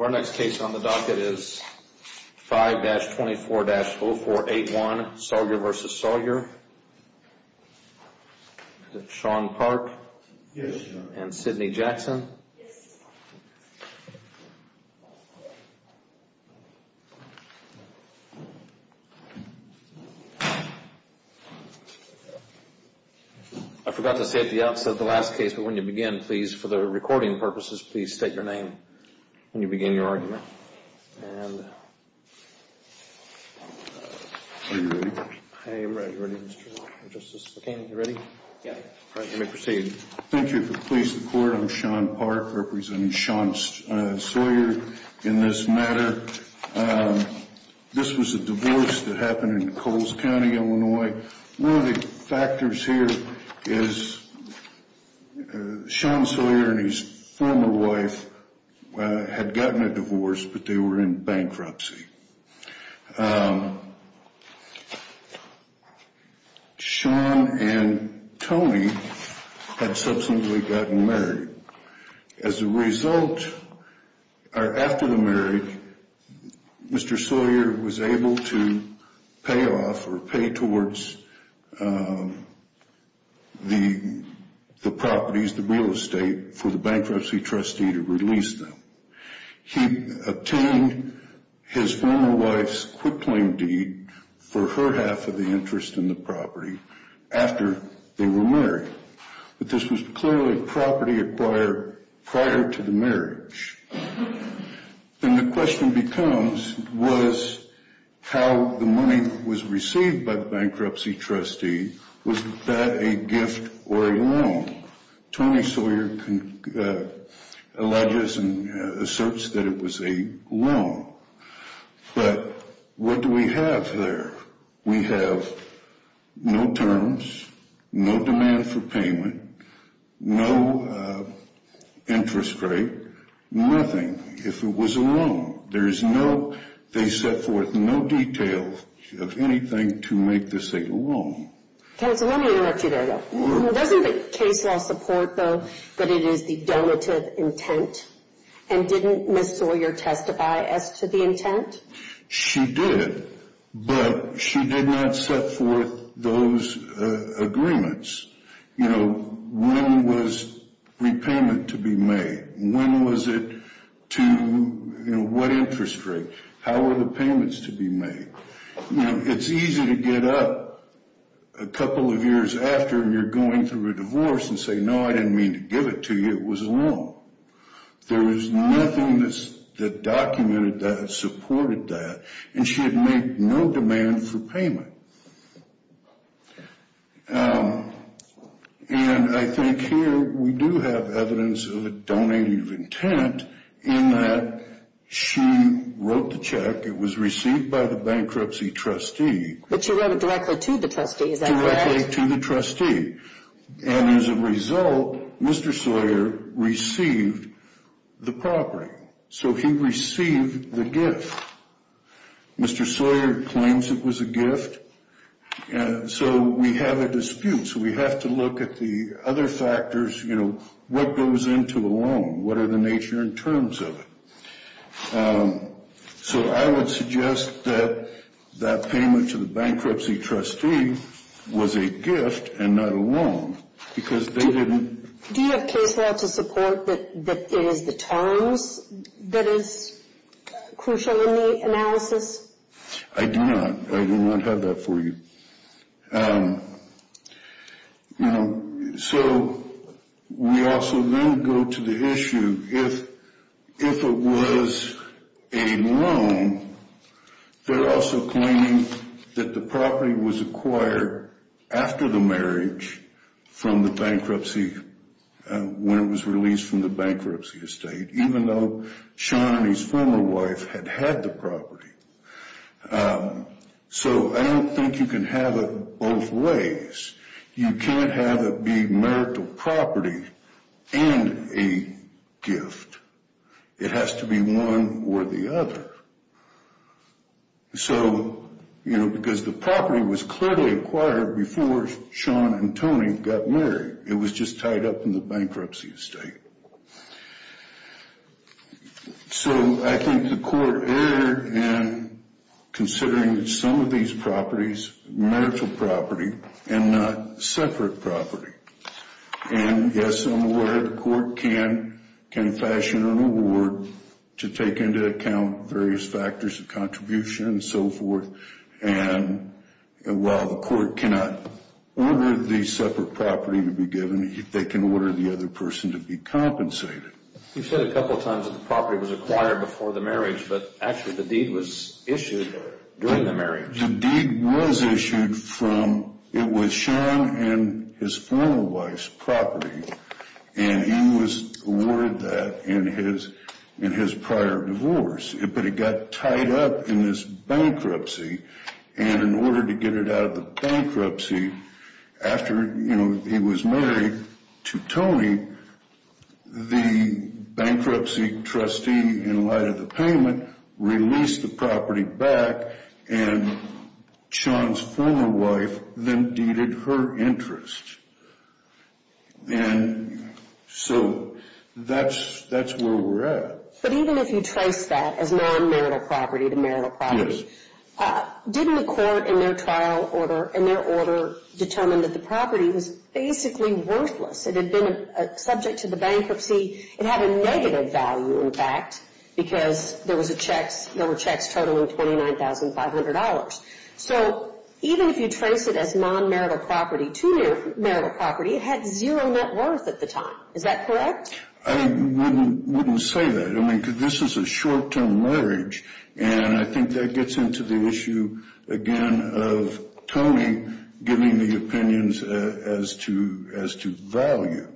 Our next case on the docket is 5-24-0481 Sawyer v. Sawyer, Sean Park and Sidney Jackson. I forgot to say at the outset of the last case, but when you begin, please, for the recording purposes, please state your name when you begin your argument. Are you ready? I am ready. Are you ready? Yeah. All right. You may proceed. Thank you. For the police and the court, I'm Sean Park, representing Sean Sawyer in this matter. This was a divorce that happened in Coles County, Illinois. One of the factors here is Sean Sawyer and his former wife had gotten a divorce, but they were in bankruptcy. Sean and Tony had subsequently gotten married. As a result, or after the marriage, Mr. Sawyer was able to pay off or pay towards the properties, the real estate, for the bankruptcy trustee to release them. He obtained his former wife's quick claim deed for her half of the interest in the property after they were married. But this was clearly property acquired prior to the marriage, and the question becomes was how the money was received by the bankruptcy trustee, was that a gift or a loan? Tony Sawyer alleges and asserts that it was a loan, but what do we have there? We have no terms, no demand for payment, no interest rate, nothing. If it was a loan, they set forth no details of anything to make this a loan. Okay, so let me interrupt you there, though. Doesn't the case law support, though, that it is the donative intent, and didn't Ms. Sawyer testify as to the intent? She did, but she did not set forth those agreements. You know, when was repayment to be made? When was it to, you know, what interest rate? How were the payments to be made? You know, it's easy to get up a couple of years after, and you're going through a divorce and say, no, I didn't mean to give it to you, it was a loan. There is nothing that documented that, supported that, and she had made no demand for payment. And I think here we do have evidence of a donative intent in that she wrote the check, it was received by the bankruptcy trustee. But she wrote it directly to the trustee, is that correct? Directly to the trustee. And as a result, Mr. Sawyer received the property. So he received the gift. Mr. Sawyer claims it was a gift, and so we have a dispute. So we have to look at the other factors, you know, what goes into a loan? What are the nature and terms of it? So I would suggest that that payment to the bankruptcy trustee was a gift and not a loan, because they didn't. Do you have case law to support that it is the terms that is crucial in the analysis? I do not. I do not have that for you. You know, so we also then go to the issue, if it was a loan, they're also claiming that the property was acquired after the marriage from the bankruptcy, when it was released from the bankruptcy estate, even though Sean and his former wife had had the property. So I don't think you can have it both ways. You can't have it be marital property and a gift. It has to be one or the other. So, you know, because the property was clearly acquired before Sean and Tony got married. It was just tied up in the bankruptcy estate. So I think the court erred in considering some of these properties marital property and not separate property. And, yes, I'm aware the court can fashion an award to take into account various factors of contribution and so forth. And while the court cannot order the separate property to be given, they can order the other person to be compensated. You said a couple of times that the property was acquired before the marriage, but actually the deed was issued during the marriage. The deed was issued from, it was Sean and his former wife's property. And he was awarded that in his prior divorce. But it got tied up in this bankruptcy. And in order to get it out of the bankruptcy, after, you know, he was married to Tony, the bankruptcy trustee, in light of the payment, released the property back, and Sean's former wife then deeded her interest. And so that's where we're at. But even if you trace that as non-marital property to marital property, didn't the court in their trial order, in their order, determine that the property was basically worthless? It had been subject to the bankruptcy. It had a negative value, in fact, because there were checks totaling $29,500. So even if you trace it as non-marital property to marital property, it had zero net worth at the time. Is that correct? I wouldn't say that. I mean, because this is a short-term marriage, and I think that gets into the issue, again, of Tony giving the opinions as to value.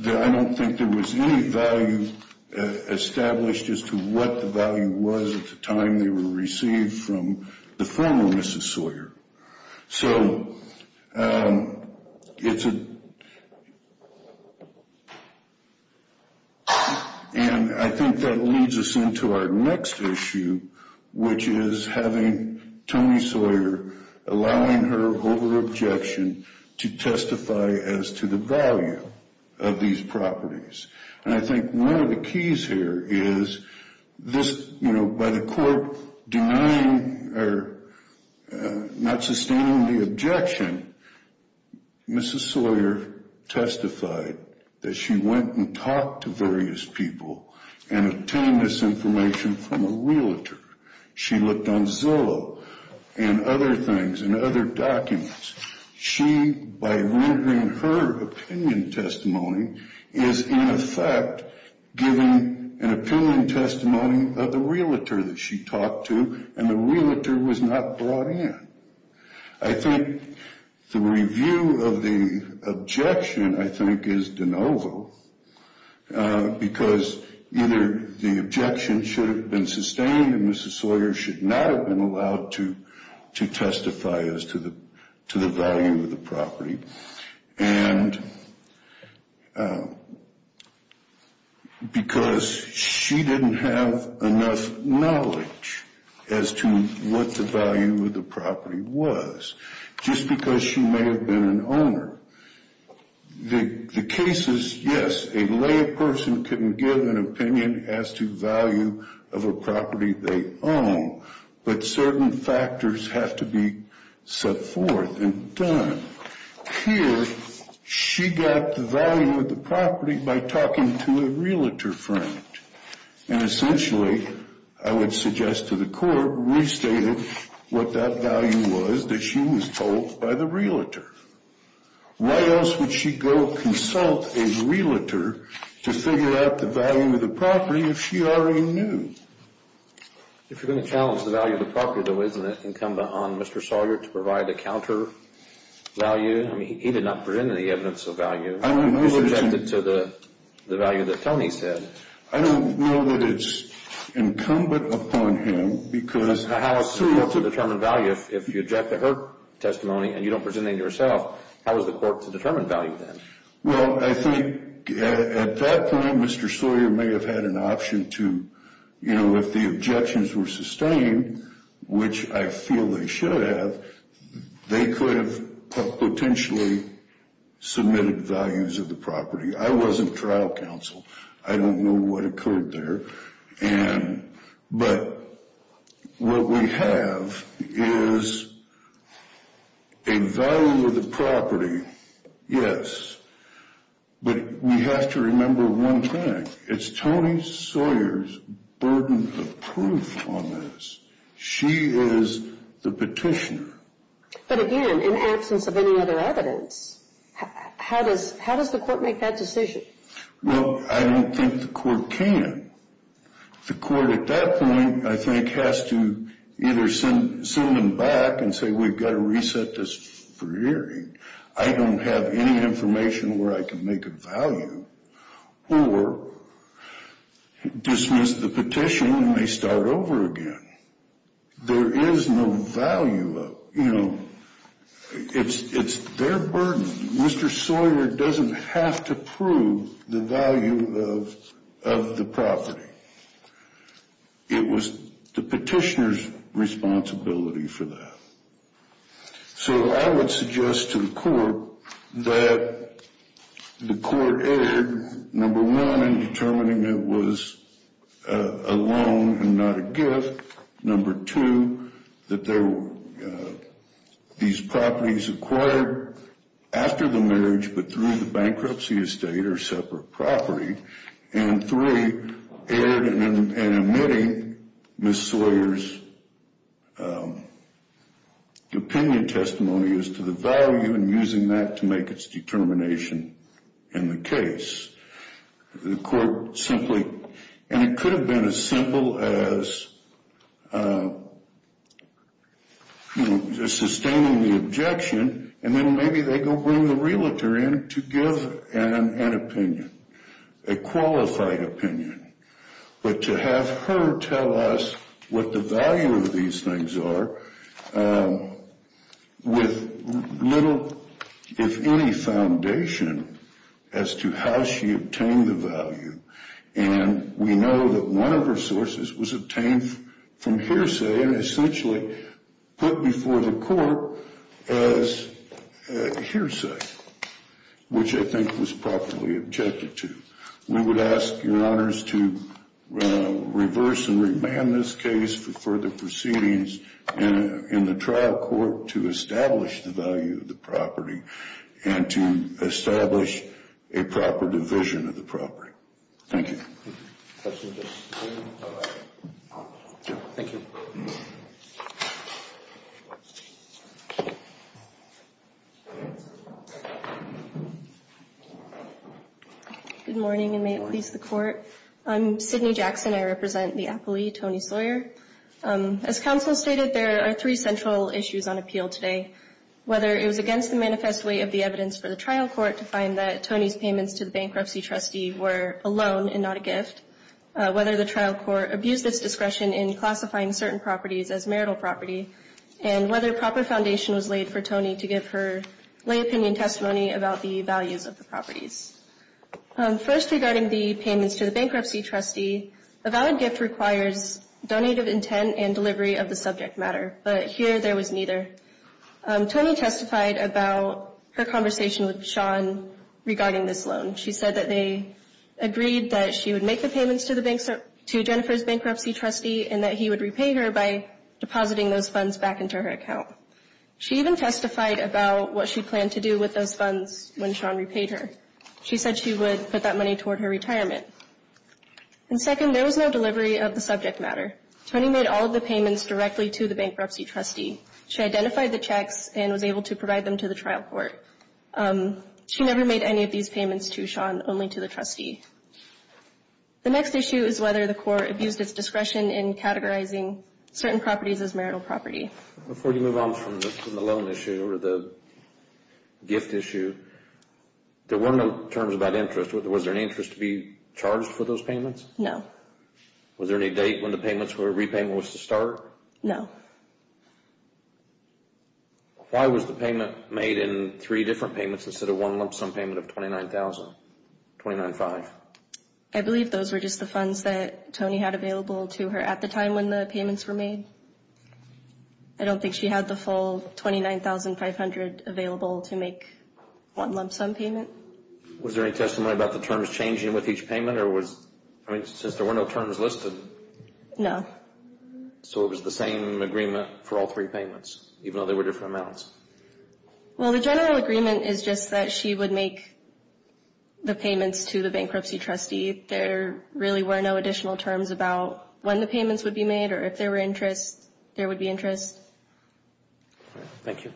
I don't think there was any value established as to what the value was at the time they were received from the former Mrs. Sawyer. So it's a—and I think that leads us into our next issue, which is having Tony Sawyer allowing her over-objection to testify as to the value of these properties. And I think one of the keys here is this—you know, by the court denying or not sustaining the objection, Mrs. Sawyer testified that she went and talked to various people and obtained this information from a realtor. She looked on Zillow and other things and other documents. She, by rendering her opinion testimony, is in effect giving an opinion testimony of the realtor that she talked to, and the realtor was not brought in. I think the review of the objection, I think, is de novo, because either the objection should have been sustained and Mrs. Sawyer should not have been allowed to testify as to the value of the property, and because she didn't have enough knowledge as to what the value of the property was, just because she may have been an owner. The case is, yes, a layperson can give an opinion as to the value of a property they own, but certain factors have to be set forth and done. Here, she got the value of the property by talking to a realtor friend, and essentially, I would suggest to the court, restated what that value was that she was told by the realtor. Why else would she go consult a realtor to figure out the value of the property if she already knew? If you're going to challenge the value of the property, though, isn't it incumbent on Mr. Sawyer to provide a counter value? I mean, he did not present any evidence of value. I don't know that it's incumbent upon him because the house is able to determine value if you object to her testimony and you don't present any to yourself. How is the court to determine value then? Well, I think at that point, Mr. Sawyer may have had an option to, you know, if the objections were sustained, which I feel they should have, they could have potentially submitted values of the property. I wasn't trial counsel. I don't know what occurred there, but what we have is a value of the property, yes, but we have to remember one thing. It's Tony Sawyer's burden of proof on this. She is the petitioner. But again, in absence of any other evidence, how does the court make that decision? Well, I don't think the court can. The court at that point, I think, has to either send them back and say, we've got to reset this hearing. I don't have any information where I can make a value, or dismiss the petition and they start over again. There is no value of, you know, it's their burden. Mr. Sawyer doesn't have to prove the value of the property. It was the petitioner's responsibility for that. So I would suggest to the court that the court erred, number one, in determining it was a loan and not a gift, number two, that these properties acquired after the marriage but through the bankruptcy estate are separate property, and three, erred in admitting Ms. Sawyer's opinion testimony as to the value and using that to make its determination in the case. The court simply, and it could have been as simple as, you know, just sustaining the objection, and then maybe they go bring the realtor in to give an opinion, a qualified opinion. But to have her tell us what the value of these things are with little, if any, foundation as to how she obtained the value, and we know that one of her sources was obtained from hearsay and essentially put before the court as hearsay, which I think was properly objected to. We would ask your honors to reverse and remand this case for further proceedings in the trial court to establish the value of the property and to establish a proper division of the property. Thank you. Thank you. Good morning, and may it please the court. I'm Sydney Jackson. I represent the appellee, Tony Sawyer. As counsel stated, there are three central issues on appeal today. Whether it was against the manifest way of the evidence for the trial court to find that Tony's payments to the bankruptcy trustee were a loan and not a gift, whether the trial court abused its discretion in classifying certain properties as marital property, and whether proper foundation was laid for Tony to give her lay opinion testimony about the values of the properties. First, regarding the payments to the bankruptcy trustee, a valid gift requires donated intent and delivery of the subject matter, but here there was neither. Tony testified about her conversation with Sean regarding this loan. She said that they agreed that she would make the payments to Jennifer's bankruptcy trustee and that he would repay her by depositing those funds back into her account. She even testified about what she planned to do with those funds when Sean repaid her. She said she would put that money toward her retirement. And second, there was no delivery of the subject matter. Tony made all of the payments directly to the bankruptcy trustee. She identified the checks and was able to provide them to the trial court. She never made any of these payments to Sean, only to the trustee. The next issue is whether the court abused its discretion in categorizing certain properties as marital property. Before you move on from the loan issue or the gift issue, there were no terms about interest. Was there any interest to be charged for those payments? No. Was there any date when the repayment was to start? No. Why was the payment made in three different payments instead of one lump sum payment of $29,000, $29,500? I believe those were just the funds that Tony had available to her at the time when the payments were made. I don't think she had the full $29,500 available to make one lump sum payment. Was there any testimony about the terms changing with each payment? I mean, since there were no terms listed. No. So it was the same agreement for all three payments, even though they were different amounts? Well, the general agreement is just that she would make the payments to the bankruptcy trustee. There really were no additional terms about when the payments would be made or if there were interest, there would be interest. Thank you.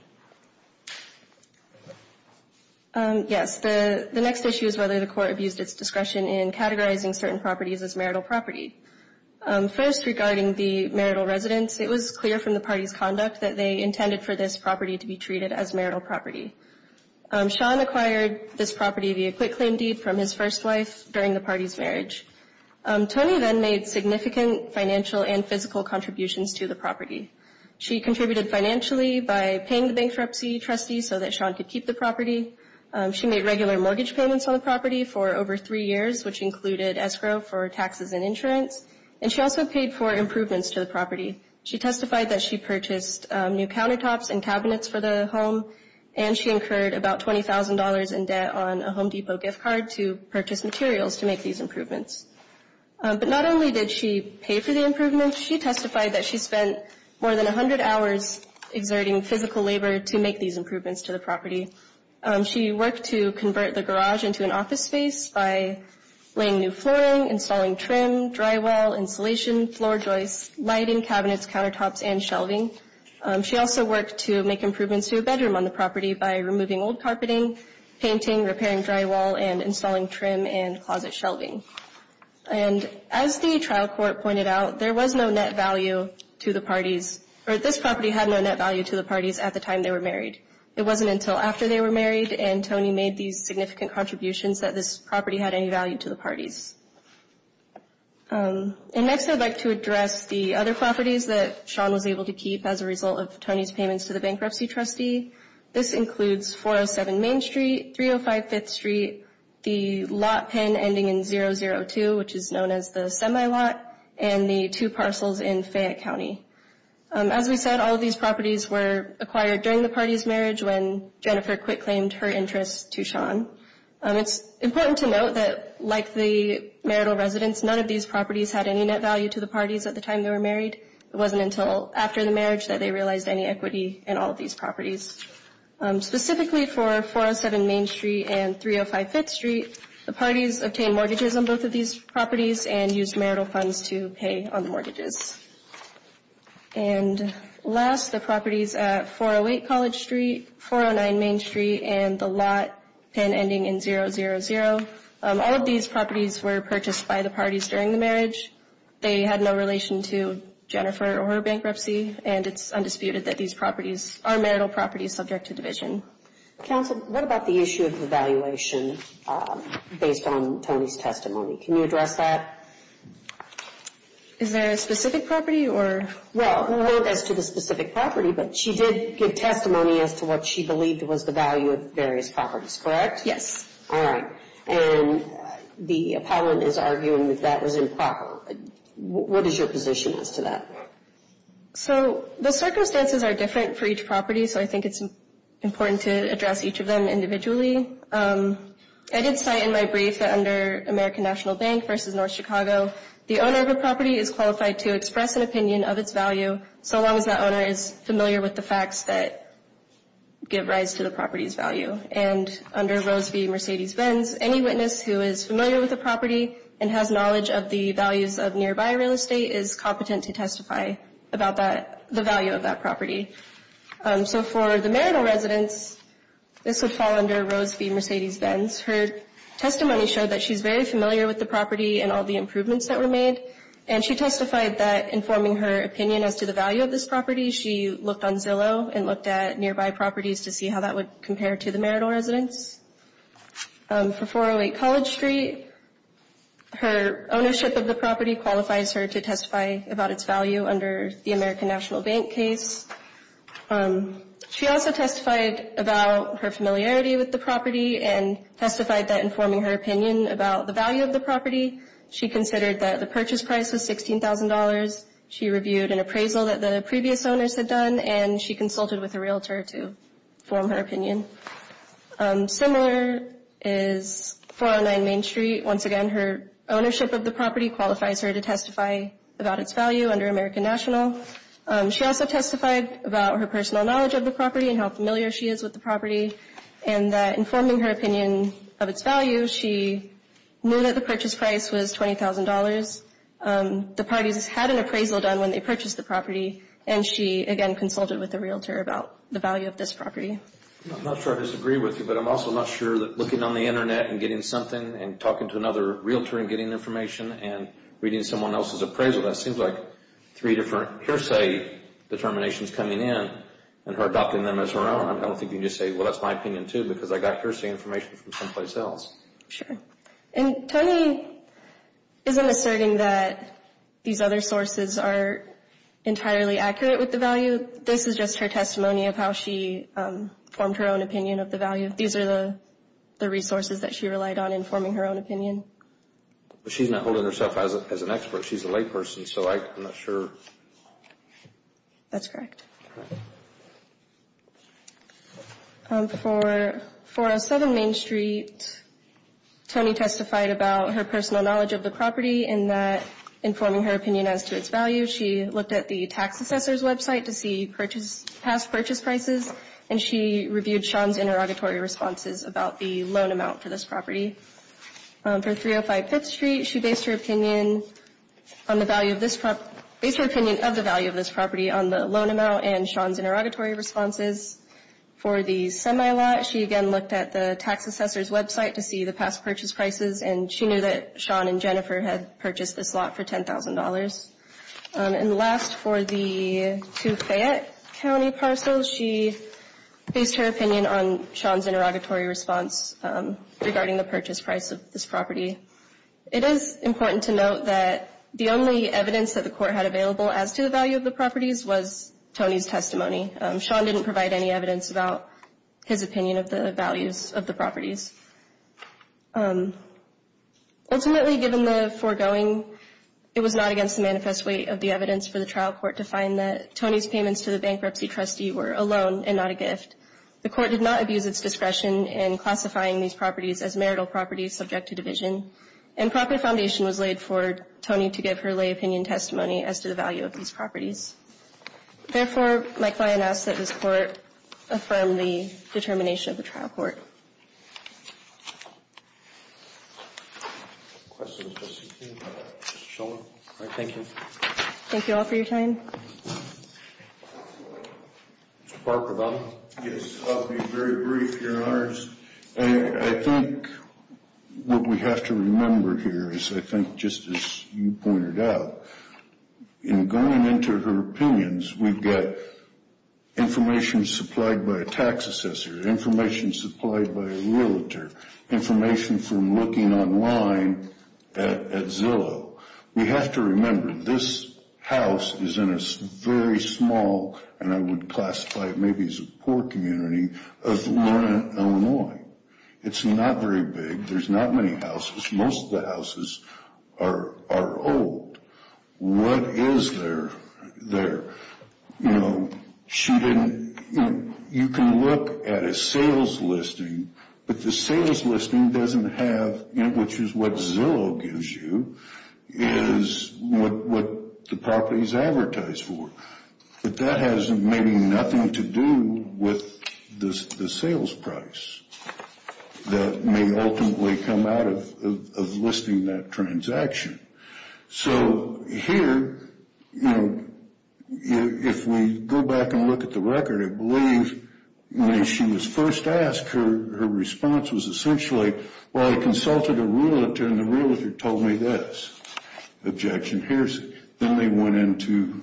Yes. The next issue is whether the court abused its discretion in categorizing certain properties as marital property. First, regarding the marital residence, it was clear from the party's conduct that they intended for this property to be treated as marital property. Sean acquired this property via quitclaim deed from his first wife during the party's marriage. Tony then made significant financial and physical contributions to the property. She contributed financially by paying the bankruptcy trustee so that Sean could keep the property. She made regular mortgage payments on the property for over three years, which included escrow for taxes and insurance, and she also paid for improvements to the property. She testified that she purchased new countertops and cabinets for the home, and she incurred about $20,000 in debt on a Home Depot gift card to purchase materials to make these improvements. But not only did she pay for the improvements, she testified that she spent more than 100 hours exerting physical labor to make these improvements to the property. She worked to convert the garage into an office space by laying new flooring, installing trim, drywall, insulation, floor joists, lighting, cabinets, countertops, and shelving. She also worked to make improvements to a bedroom on the property by removing old carpeting, painting, repairing drywall, and installing trim and closet shelving. And as the trial court pointed out, there was no net value to the parties, or this property had no net value to the parties at the time they were married. It wasn't until after they were married and Tony made these significant contributions that this property had any value to the parties. And next I'd like to address the other properties that Sean was able to keep as a result of Tony's payments to the bankruptcy trustee. This includes 407 Main Street, 305 Fifth Street, the lot pen ending in 002, which is known as the semi-lot, and the two parcels in Fayette County. As we said, all of these properties were acquired during the party's marriage when Jennifer Quick claimed her interest to Sean. It's important to note that like the marital residence, none of these properties had any net value to the parties at the time they were married. It wasn't until after the marriage that they realized any equity in all of these properties. Specifically for 407 Main Street and 305 Fifth Street, the parties obtained mortgages on both of these properties and used marital funds to pay on the mortgages. And last, the properties at 408 College Street, 409 Main Street, and the lot pen ending in 000, all of these properties were purchased by the parties during the marriage. They had no relation to Jennifer or her bankruptcy, and it's undisputed that these properties are marital properties subject to division. Counsel, what about the issue of evaluation based on Tony's testimony? Can you address that? Is there a specific property or? Well, as to the specific property, but she did give testimony as to what she believed was the value of various properties, correct? Yes. All right. And the appellant is arguing that that was improper. What is your position as to that? So the circumstances are different for each property, so I think it's important to address each of them individually. I did say in my brief that under American National Bank versus North Chicago, the owner of a property is qualified to express an opinion of its value so long as that owner is familiar with the facts that give rise to the property's value. And under Rose v. Mercedes-Benz, any witness who is familiar with the property and has knowledge of the values of nearby real estate is competent to testify about the value of that property. So for the marital residence, this would fall under Rose v. Mercedes-Benz. Her testimony showed that she's very familiar with the property and all the improvements that were made, and she testified that informing her opinion as to the value of this property, she looked on Zillow and looked at nearby properties to see how that would compare to the marital residence. For 408 College Street, her ownership of the property qualifies her to testify about its value under the American National Bank case. She also testified about her familiarity with the property and testified that informing her opinion about the value of the property, she considered that the purchase price was $16,000. She reviewed an appraisal that the previous owners had done, and she consulted with a realtor to form her opinion. Similar is 409 Main Street. Once again, her ownership of the property qualifies her to testify about its value under American National. She also testified about her personal knowledge of the property and how familiar she is with the property and that informing her opinion of its value, she knew that the purchase price was $20,000. The parties had an appraisal done when they purchased the property, and she, again, consulted with the realtor about the value of this property. I'm not sure I disagree with you, but I'm also not sure that looking on the Internet and getting something and talking to another realtor and getting information and reading someone else's appraisal, that seems like three different hearsay determinations coming in and her adopting them as her own. I don't think you can just say, well, that's my opinion, too, because I got hearsay information from someplace else. Sure. And Tony isn't asserting that these other sources are entirely accurate with the value. This is just her testimony of how she formed her own opinion of the value. These are the resources that she relied on in forming her own opinion. But she's not holding herself as an expert. She's a layperson, so I'm not sure. That's correct. For 407 Main Street, Tony testified about her personal knowledge of the property and that in forming her opinion as to its value, she looked at the tax assessor's website to see past purchase prices, and she reviewed Sean's interrogatory responses about the loan amount for this property. For 305 Fifth Street, she based her opinion on the value of this property, based her opinion of the value of this property on the loan amount, and Sean's interrogatory responses. For the semi-lot, she again looked at the tax assessor's website to see the past purchase prices, and she knew that Sean and Jennifer had purchased this lot for $10,000. And last, for the 2 Fayette County parcels, she based her opinion on Sean's interrogatory response regarding the purchase price of this property. It is important to note that the only evidence that the court had available as to the value of the properties was Tony's testimony. Sean didn't provide any evidence about his opinion of the values of the properties. Ultimately, given the foregoing, it was not against the manifest weight of the evidence for the trial court to find that Tony's payments to the bankruptcy trustee were a loan and not a gift. The court did not abuse its discretion in classifying these properties as marital properties subject to division, and proper foundation was laid for Tony to give her lay opinion testimony as to the value of these properties. Therefore, my client asks that this court affirm the determination of the trial court. Thank you all for your time. Mr. Parker, if I may? Yes, I'll be very brief, Your Honors. I think what we have to remember here is, I think, just as you pointed out, in going into her opinions, we've got information supplied by a tax assessor, information supplied by a realtor, information from looking online at Zillow. We have to remember this house is in a very small, and I would classify it maybe as a poor community, of Illinois. It's not very big. There's not many houses. Most of the houses are old. What is there? You know, she didn't, you know, you can look at a sales listing, but the sales listing doesn't have, which is what Zillow gives you, is what the property is advertised for. But that has maybe nothing to do with the sales price that may ultimately come out of listing that transaction. So here, you know, if we go back and look at the record, when she was first asked, her response was essentially, well, I consulted a realtor and the realtor told me this objection. Then they went into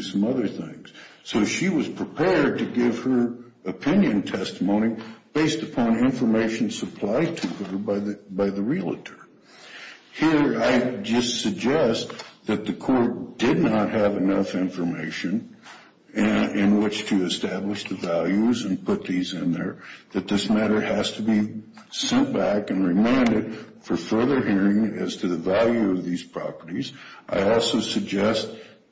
some other things. So she was prepared to give her opinion testimony based upon information supplied to her by the realtor. Here, I just suggest that the court did not have enough information in which to establish the values and put these in there, that this matter has to be sent back and reminded for further hearing as to the value of these properties. I also suggest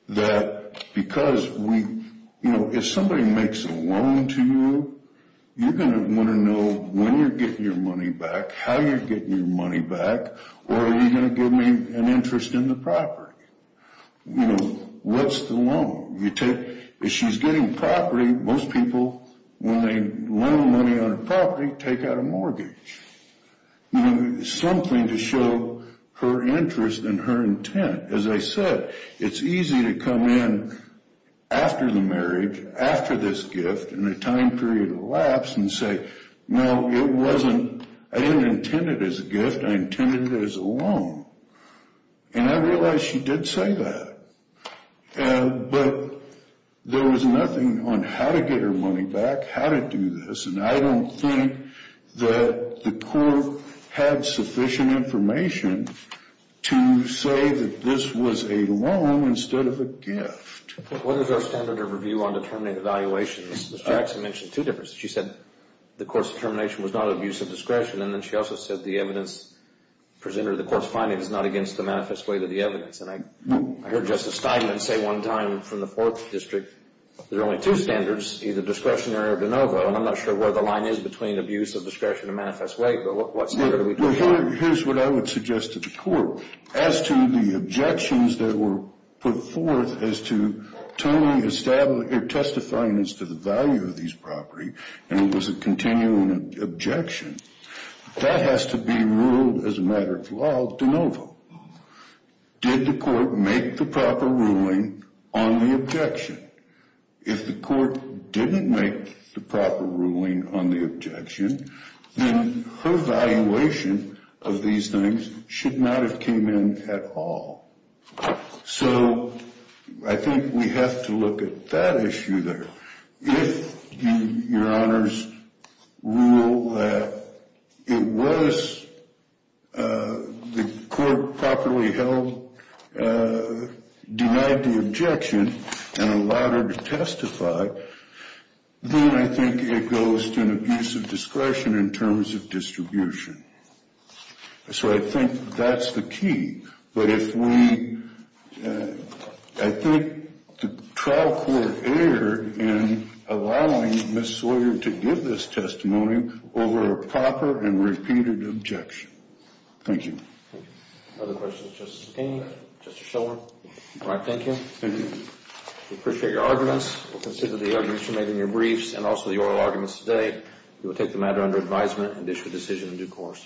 that because we, you know, if somebody makes a loan to you, you're going to want to know when you're getting your money back, how you're getting your money back, or are you going to give me an interest in the property? You know, what's the loan? If she's getting property, most people, when they loan money on a property, take out a mortgage. You know, something to show her interest and her intent. As I said, it's easy to come in after the marriage, after this gift, in a time period of lapse, and say, no, it wasn't, I didn't intend it as a gift, I intended it as a loan. And I realize she did say that. But there was nothing on how to get her money back, how to do this, and I don't think that the court had sufficient information to say that this was a loan instead of a gift. What is our standard of review on determinate evaluations? Ms. Jackson mentioned two differences. She said the court's determination was not of use of discretion, and then she also said the evidence presented or the court's finding is not against the manifest way of the evidence. And I heard Justice Steinman say one time from the Fourth District, there are only two standards, either discretionary or de novo, and I'm not sure where the line is between abuse of discretion and manifest way, but what standard are we talking about? Here's what I would suggest to the court. As to the objections that were put forth as to totally testifying as to the value of these property, and it was a continuing objection, that has to be ruled as a matter of law de novo. Did the court make the proper ruling on the objection? If the court didn't make the proper ruling on the objection, then her evaluation of these things should not have came in at all. So I think we have to look at that issue there. If your honors rule that it was the court properly held denied the objection and allowed her to testify, then I think it goes to an abuse of discretion in terms of distribution. So I think that's the key. But if we, I think the trial court erred in allowing Ms. Sawyer to give this testimony over a proper and repeated objection. Thank you. Thank you. Other questions of Justice King, Justice Shulman? All right, thank you. Thank you. We appreciate your arguments. We'll consider the arguments you made in your briefs and also the oral arguments today. We will take the matter under advisement and issue a decision in due course.